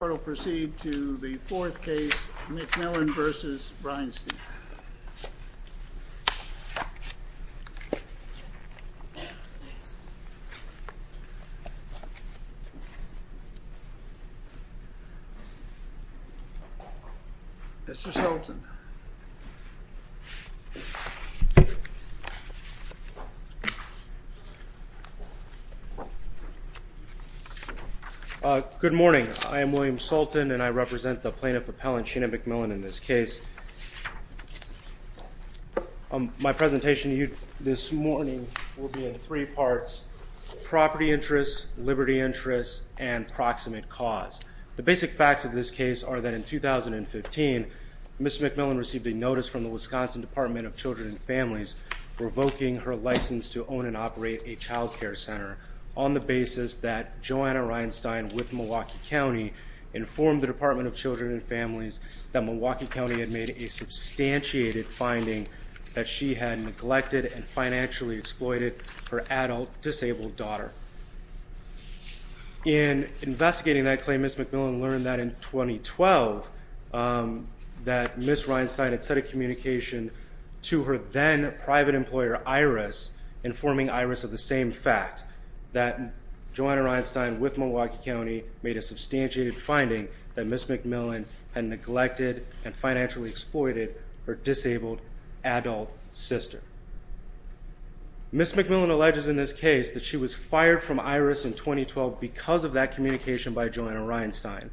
The court will proceed to the fourth case, McMillon v. Reinstein. Mr. Sultan. Good morning. I am William Sultan and I represent the plaintiff appellant Sheena McMillon in this case. My presentation to you this morning will be in three parts. Property interests, liberty interests, and proximate cause. The basic facts of this case are that in 2015, Ms. McMillon received a notice from the Wisconsin Department of Children and Families revoking her license to own and operate a child care center on the basis that Joanna Reinstein with Milwaukee County informed the Department of Children and Families that Milwaukee County had made a substantiated finding that she had neglected and financially exploited her adult disabled daughter. In investigating that claim, Ms. McMillon learned that in 2012, that Ms. Reinstein had set a communication to her then private employer, Iris, informing Iris of the same fact, that Joanna Reinstein with Milwaukee County made a substantiated finding that Ms. McMillon had neglected and financially exploited her disabled adult sister. Ms. McMillon alleges in this case that she was fired from Iris in 2012 because of that communication by Joanna Reinstein.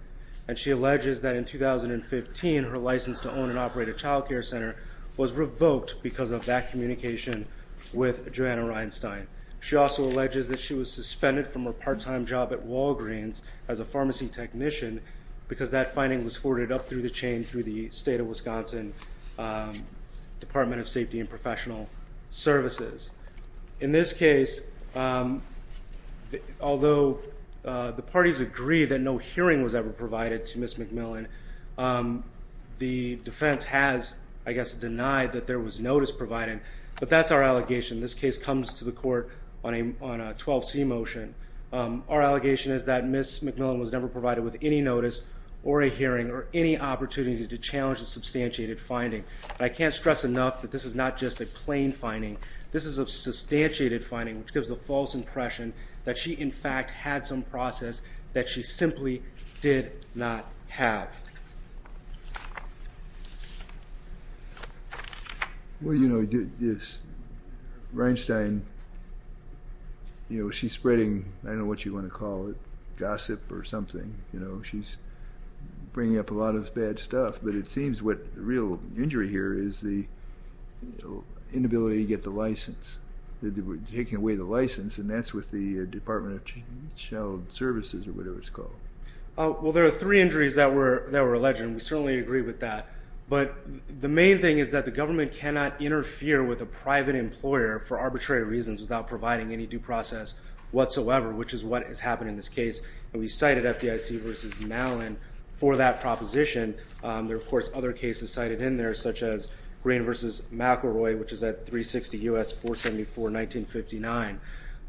And she alleges that in 2015, her license to own and operate a child care center was revoked because of that communication with Joanna Reinstein. She also alleges that she was suspended from her part-time job at Walgreens as a pharmacy technician because that finding was forwarded up through the chain through the state of Wisconsin Department of Safety and Professional Services. In this case, although the parties agree that no hearing was ever provided to Ms. McMillon, the defense has, I guess, denied that there was notice provided, but that's our allegation. This case comes to the court on a 12C motion. Our allegation is that Ms. McMillon was never provided with any notice or a hearing or any opportunity to challenge the substantiated finding. I can't stress enough that this is not just a plain finding. This is a substantiated finding, which gives the false impression that she, in fact, had some process that she simply did not have. Well, you know, this Reinstein, you know, she's spreading, I don't know what you want to call it, gossip or something. You know, she's bringing up a lot of bad stuff, but it seems what the real injury here is the inability to get the license, taking away the license, and that's with the Department of Child Services or whatever it's called. Well, there are three injuries that were alleged, and we certainly agree with that, but the main thing is that the government cannot interfere with a private employer for arbitrary reasons without providing any due process whatsoever, which is what has happened in this case, and we cited FDIC v. Malin for that proposition. There are, of course, other cases cited in there, such as Greene v. McElroy, which is at 360 U.S. 474-1959,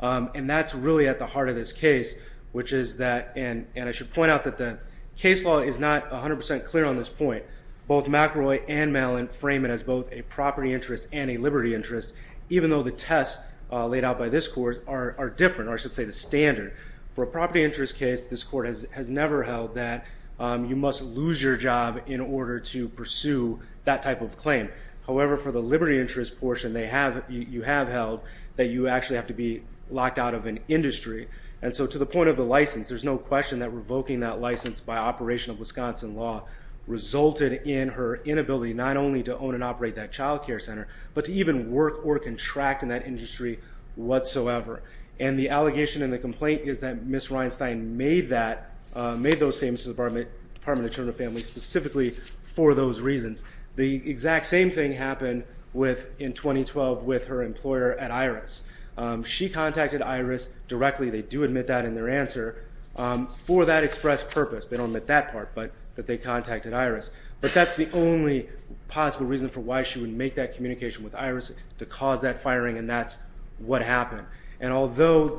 and that's really at the heart of this case, which is that, and I should point out that the case law is not 100% clear on this point. Both McElroy and Malin frame it as both a property interest and a liberty interest, even though the tests laid out by this court are different, or I should say the standard. For a property interest case, this court has never held that you must lose your job in order to pursue that type of claim. However, for the liberty interest portion, you have held that you actually have to be locked out of an industry, and so to the point of the license, there's no question that revoking that license by operation of Wisconsin law resulted in her inability not only to own and operate that child care center, but to even work or contract in that industry whatsoever, and the allegation and the complaint is that Ms. Reinstein made those statements to the Department of Children and Families specifically for those reasons. The exact same thing happened in 2012 with her employer at Iris. She contacted Iris directly. They do admit that in their answer for that express purpose. They don't admit that part, but that they contacted Iris, but that's the only possible reason for why she would make that communication with Iris to cause that firing, and that's what happened, and although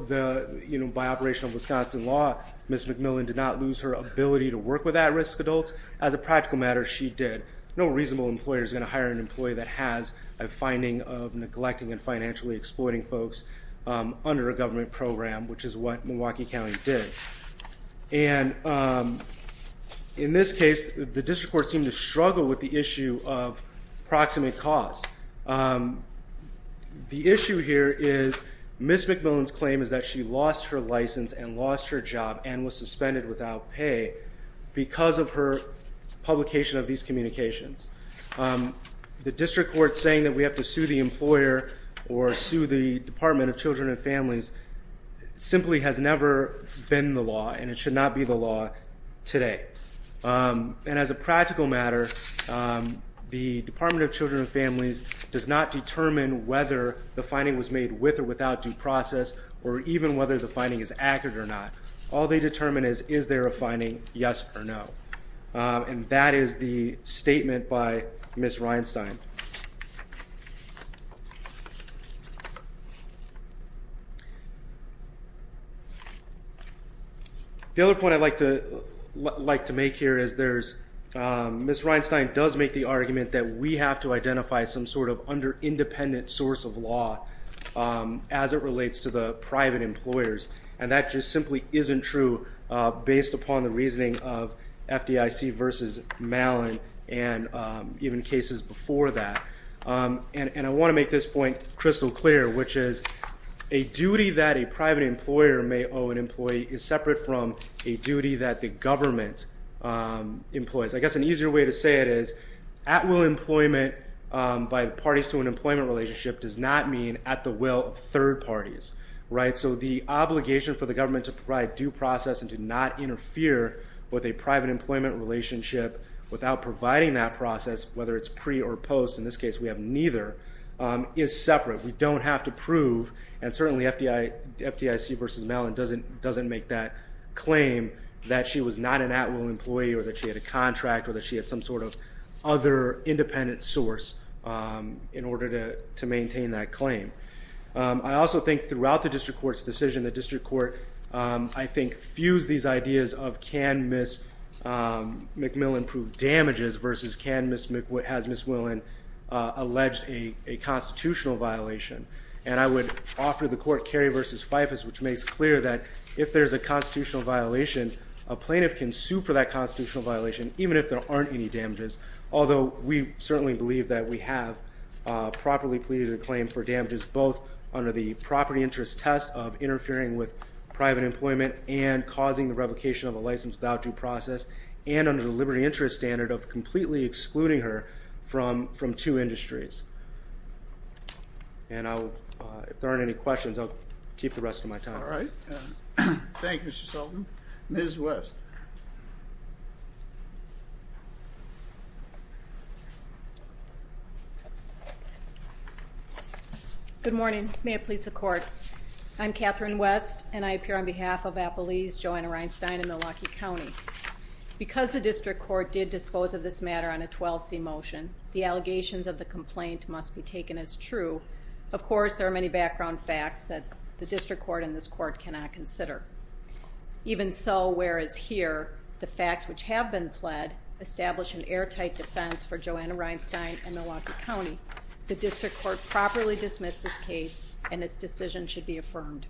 by operation of Wisconsin law, Ms. McMillan did not lose her ability to work with at-risk adults, as a practical matter, she did. No reasonable employer is going to hire an employee that has a finding of neglecting and financially exploiting folks under a government program, which is what Milwaukee County did, and in this case, the district court seemed to struggle with the issue of proximate cause. The issue here is Ms. McMillan's claim is that she lost her license and lost her job and was suspended without pay because of her publication of these communications. The district court saying that we have to sue the employer or sue the Department of Children and Families simply has never been the law, and it should not be the law today, and as a practical matter, the Department of Children and Families does not determine whether the finding was made with or without due process or even whether the finding is accurate or not. All they determine is is there a finding, yes or no, and that is the statement by Ms. Reinstein. The other point I'd like to make here is Ms. Reinstein does make the argument that we have to identify some sort of under-independent source of law as it relates to the private employers, and that just simply isn't true based upon the reasoning of FDIC versus Mallin and even cases before that, and I want to make this point crystal clear, which is a duty that a private employer may owe an employee is separate from a duty that the government employs. I guess an easier way to say it is at-will employment by parties to an employment relationship does not mean at the will of third parties, so the obligation for the government to provide due process and to not interfere with a private employment relationship without providing that process, whether it's pre or post, in this case we have neither, is separate. We don't have to prove, and certainly FDIC versus Mallin doesn't make that claim that she was not an at-will employee or that she had a contract or that she had some sort of other independent source in order to maintain that claim. I also think throughout the district court's decision, the district court, I think, fused these ideas of can Ms. McMillan prove damages versus has Ms. McMillan alleged a constitutional violation, and I would offer the court Kerry versus Fyfus, which makes clear that if there's a constitutional violation, a plaintiff can sue for that constitutional violation even if there aren't any damages, although we certainly believe that we have properly pleaded a claim for damages, both under the property interest test of interfering with private employment and causing the revocation of a license without due process, and under the liberty interest standard of completely excluding her from two industries. And if there aren't any questions, I'll keep the rest of my time. All right. Thank you, Mr. Sullivan. Ms. West. Good morning. May it please the court. I'm Catherine West, and I appear on behalf of Appaloose, Joanna, Rhinestone, and Milwaukee County. Because the district court did dispose of this matter on a 12C motion, the allegations of the complaint must be taken as true. Of course, there are many background facts that the district court and this court cannot consider. Even so, whereas here the facts which have been pled establish an airtight defense for Joanna Rhinestone and Milwaukee County, the district court properly dismissed this case, and its decision should be affirmed.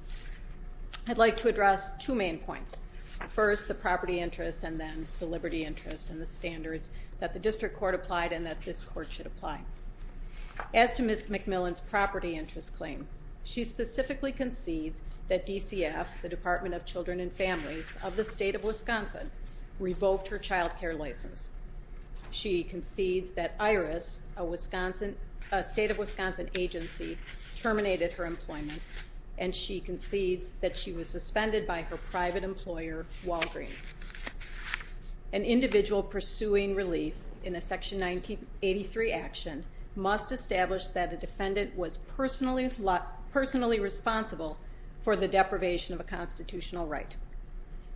I'd like to address two main points. First, the property interest, and then the liberty interest and the standards that the district court applied and that this court should apply. As to Ms. McMillan's property interest claim, she specifically concedes that DCF, the Department of Children and Families of the state of Wisconsin, revoked her child care license. She concedes that IRIS, a state of Wisconsin agency, terminated her employment, and she concedes that she was suspended by her private employer, Walgreens. An individual pursuing relief in a Section 1983 action must establish that the defendant was personally responsible for the deprivation of a constitutional right.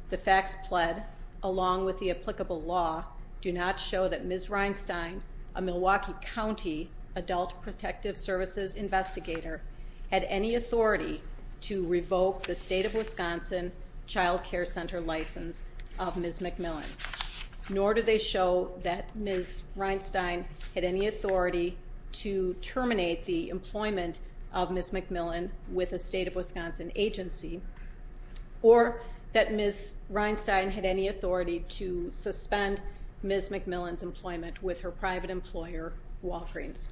The facts pled, along with the applicable law, do not show that Ms. Rhinestone, a Milwaukee County Adult Protective Services investigator, had any authority to revoke the state of Wisconsin child care center license of Ms. McMillan, nor do they show that Ms. Rhinestone had any authority to terminate the employment of Ms. McMillan with a state of Wisconsin agency, or that Ms. Rhinestone had any authority to suspend Ms. McMillan's employment with her private employer, Walgreens.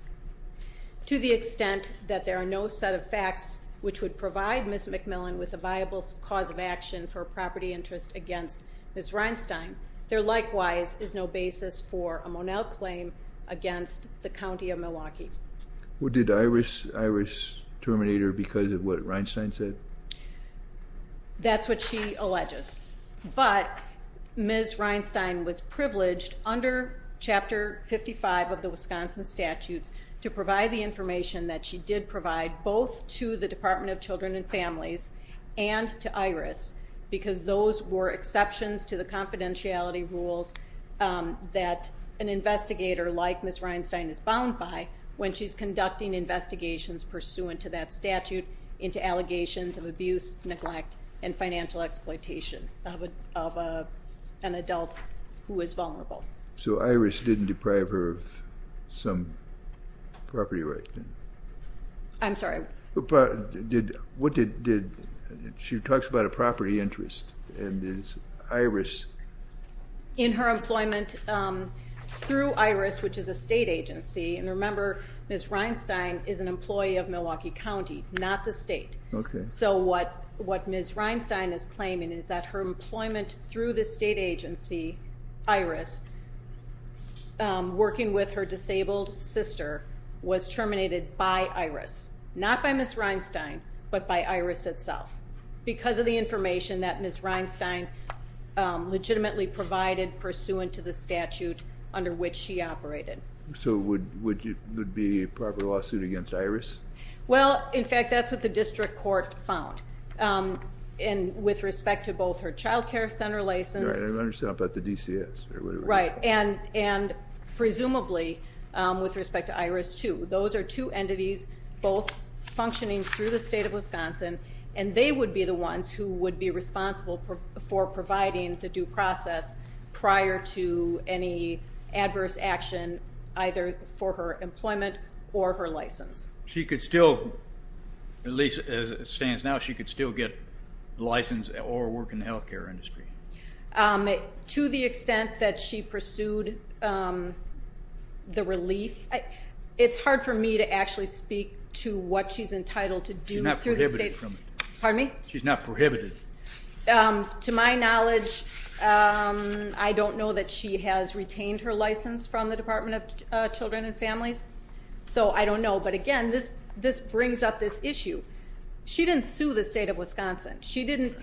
To the extent that there are no set of facts which would provide Ms. McMillan with a viable cause of action for property interest against Ms. Rhinestone, there likewise is no basis for a Monell claim against the County of Milwaukee. Well, did IRIS terminate her because of what Rhinestone said? That's what she alleges. But Ms. Rhinestone was privileged under Chapter 55 of the Wisconsin statutes to provide the information that she did provide both to the Department of Children and Families and to IRIS because those were exceptions to the confidentiality rules that an investigator like Ms. Rhinestone is bound by when she's conducting investigations pursuant to that statute into allegations of abuse, neglect, and financial exploitation of an adult who is vulnerable. So IRIS didn't deprive her of some property right? I'm sorry? She talks about a property interest, and is IRIS? In her employment through IRIS, which is a state agency, and remember Ms. Rhinestone is an employee of Milwaukee County, not the state. So what Ms. Rhinestone is claiming is that her employment through the state agency, IRIS, working with her disabled sister, was terminated by IRIS. Not by Ms. Rhinestone, but by IRIS itself. Because of the information that Ms. Rhinestone legitimately provided pursuant to the statute under which she operated. So would it be a proper lawsuit against IRIS? Well, in fact, that's what the district court found. And with respect to both her child care center license. I understand about the DCS. Right, and presumably with respect to IRIS too. Those are two entities both functioning through the state of Wisconsin, and they would be the ones who would be responsible for providing the due process prior to any adverse action either for her employment or her license. She could still, at least as it stands now, she could still get a license or work in the health care industry. To the extent that she pursued the relief, it's hard for me to actually speak to what she's entitled to do through the state. She's not prohibited from it. Pardon me? She's not prohibited. To my knowledge, I don't know that she has retained her license from the Department of Children and Families. So I don't know. But, again, this brings up this issue. She didn't sue the state of Wisconsin. She didn't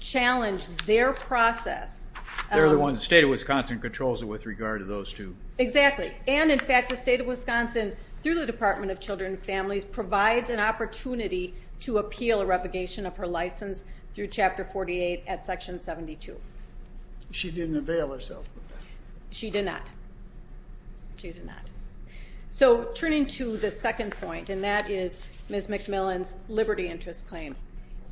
challenge their process. They're the ones. The state of Wisconsin controls it with regard to those two. Exactly. And, in fact, the state of Wisconsin, through the Department of Children and Families, provides an opportunity to appeal a revocation of her license through Chapter 48 at Section 72. She didn't avail herself of that. She did not. She did not. So turning to the second point, and that is Ms. McMillan's liberty interest claim,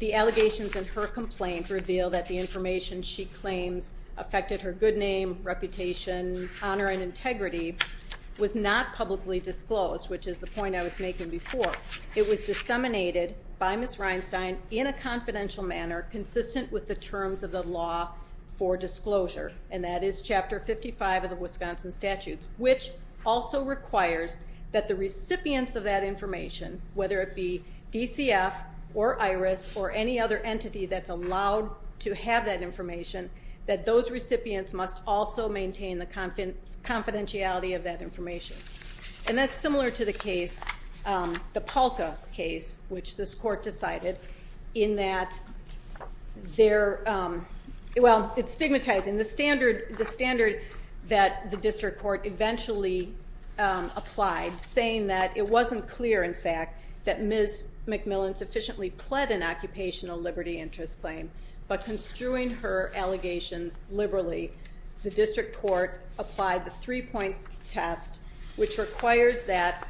the allegations in her complaint reveal that the information she claims affected her good name, reputation, honor, and integrity was not publicly disclosed, which is the point I was making before. It was disseminated by Ms. Reinstein in a confidential manner, consistent with the terms of the law for disclosure, and that is Chapter 55 of the Wisconsin Statutes, which also requires that the recipients of that information, whether it be DCF or IRIS or any other entity that's allowed to have that And that's similar to the case, the Palka case, which this court decided in that they're, well, it's stigmatizing. The standard that the district court eventually applied, saying that it wasn't clear, in fact, that Ms. McMillan sufficiently pled an occupational liberty interest claim, but construing her allegations liberally, the district court applied the three-point test, which requires that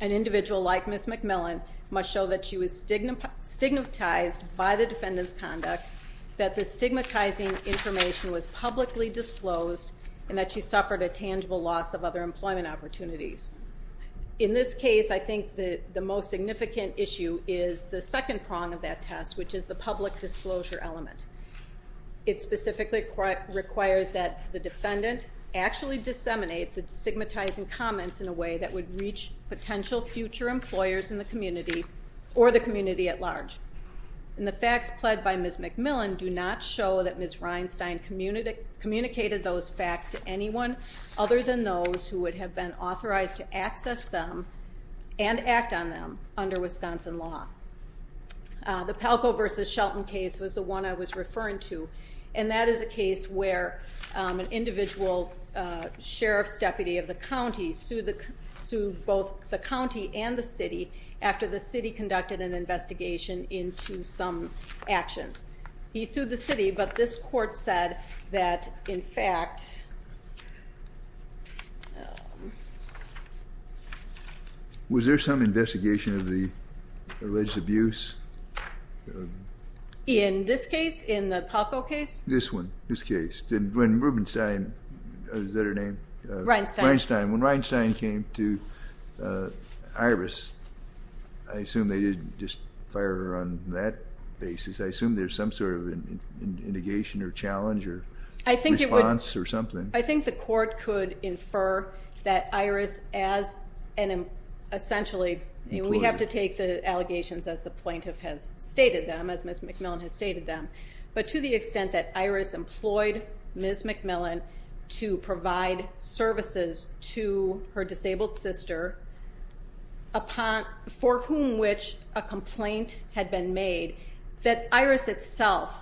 an individual like Ms. McMillan must show that she was stigmatized by the defendant's conduct, that the stigmatizing information was publicly disclosed, and that she suffered a tangible loss of other employment opportunities. In this case, I think the most significant issue is the second prong of that test, which is the public disclosure element. It specifically requires that the defendant actually disseminate the stigmatizing comments in a way that would reach potential future employers in the community or the community at large. And the facts pled by Ms. McMillan do not show that Ms. Reinstein communicated those facts to anyone other than those who would have been authorized to access them and act on them under Wisconsin law. The Palco v. Shelton case was the one I was referring to, and that is a case where an individual sheriff's deputy of the county sued both the county and the city after the city conducted an investigation into some actions. He sued the city, but this court said that, in fact... Was there some investigation of the alleged abuse? In this case, in the Palco case? This one, this case. When Rubenstein, is that her name? Reinstein. Reinstein. When Reinstein came to Iris, I assume they didn't just fire her on that basis. I assume there's some sort of indication or challenge or response or something. I think the court could infer that Iris as an essentially, we have to take the allegations as the plaintiff has stated them, as Ms. McMillan has stated them, but to the extent that Iris employed Ms. McMillan to provide services to her disabled sister for whom which a complaint had been made, that Iris itself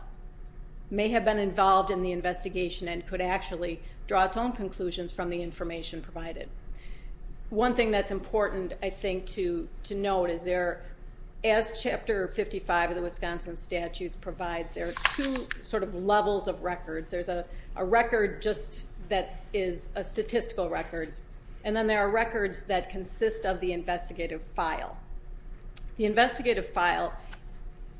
may have been involved in the investigation and could actually draw its own conclusions from the information provided. One thing that's important, I think, to note is there, as Chapter 55 of the Wisconsin Statutes provides, there are two sort of levels of records. There's a record just that is a statistical record, and then there are records that consist of the investigative file. The investigative file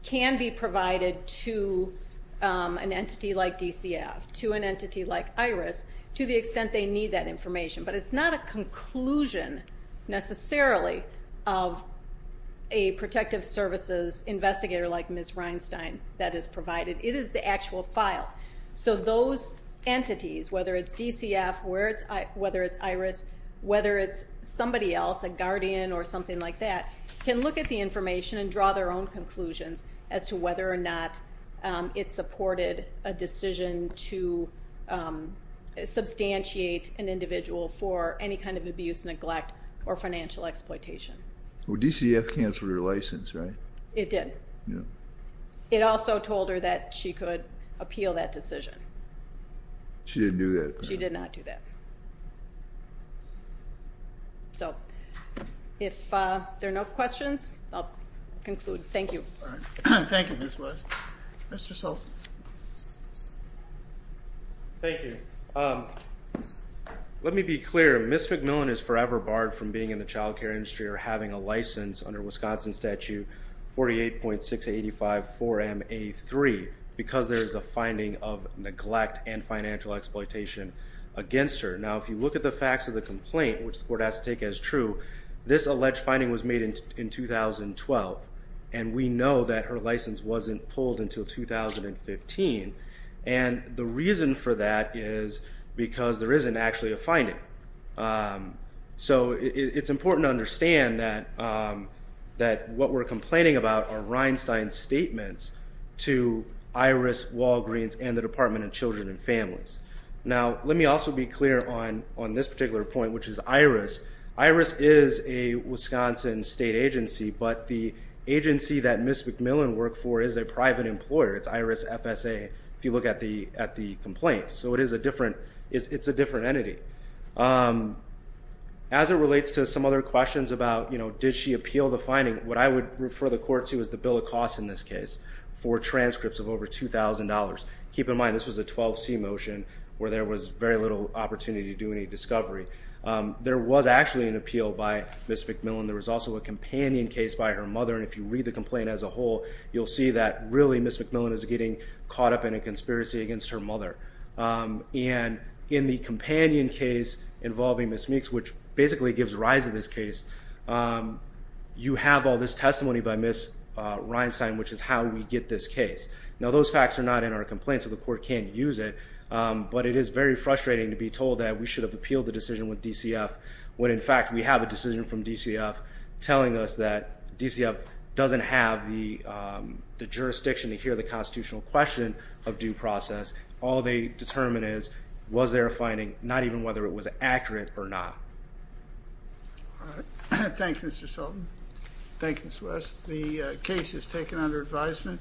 can be provided to an entity like DCF, to an entity like Iris, to the extent they need that information. But it's not a conclusion necessarily of a protective services investigator like Ms. Reinstein that is provided. It is the actual file. So those entities, whether it's DCF, whether it's Iris, whether it's somebody else, a guardian or something like that, can look at the information and draw their own conclusions as to whether or not it supported a decision to substantiate an individual for any kind of abuse, neglect, or financial exploitation. Well, DCF canceled her license, right? It did. It also told her that she could appeal that decision. She didn't do that. She did not do that. So if there are no questions, I'll conclude. Thank you. Thank you, Ms. West. Mr. Sulzman. Thank you. Let me be clear. Ms. McMillan is forever barred from being in the child care industry or having a license under Wisconsin Statute 48.685-4MA3 because there is a finding of neglect and financial exploitation against her. Now, if you look at the facts of the complaint, which the court has to take as true, this alleged finding was made in 2012, and we know that her license wasn't pulled until 2015. And the reason for that is because there isn't actually a finding. So it's important to understand that what we're complaining about are Reinstein's statements to IRIS, Walgreens, and the Department of Children and Families. Now, let me also be clear on this particular point, which is IRIS. IRIS is a Wisconsin state agency, but the agency that Ms. McMillan worked for is a private employer. It's IRIS FSA if you look at the complaint. So it's a different entity. As it relates to some other questions about did she appeal the finding, what I would refer the court to is the bill of costs in this case for transcripts of over $2,000. Keep in mind this was a 12C motion where there was very little opportunity to do any discovery. There was actually an appeal by Ms. McMillan. There was also a companion case by her mother, and if you read the complaint as a whole, you'll see that really Ms. McMillan is getting caught up in a conspiracy against her mother. And in the companion case involving Ms. Meeks, which basically gives rise to this case, you have all this testimony by Ms. Reinstein, which is how we get this case. Now, those facts are not in our complaint, so the court can't use it, but it is very frustrating to be told that we should have appealed the decision with DCF when, in fact, we have a decision from DCF telling us that DCF doesn't have the jurisdiction to hear the constitutional question of due process. All they determine is was there a finding, not even whether it was accurate or not. Thank you, Mr. Sultan. Thank you, Ms. West. The case is taken under advisement,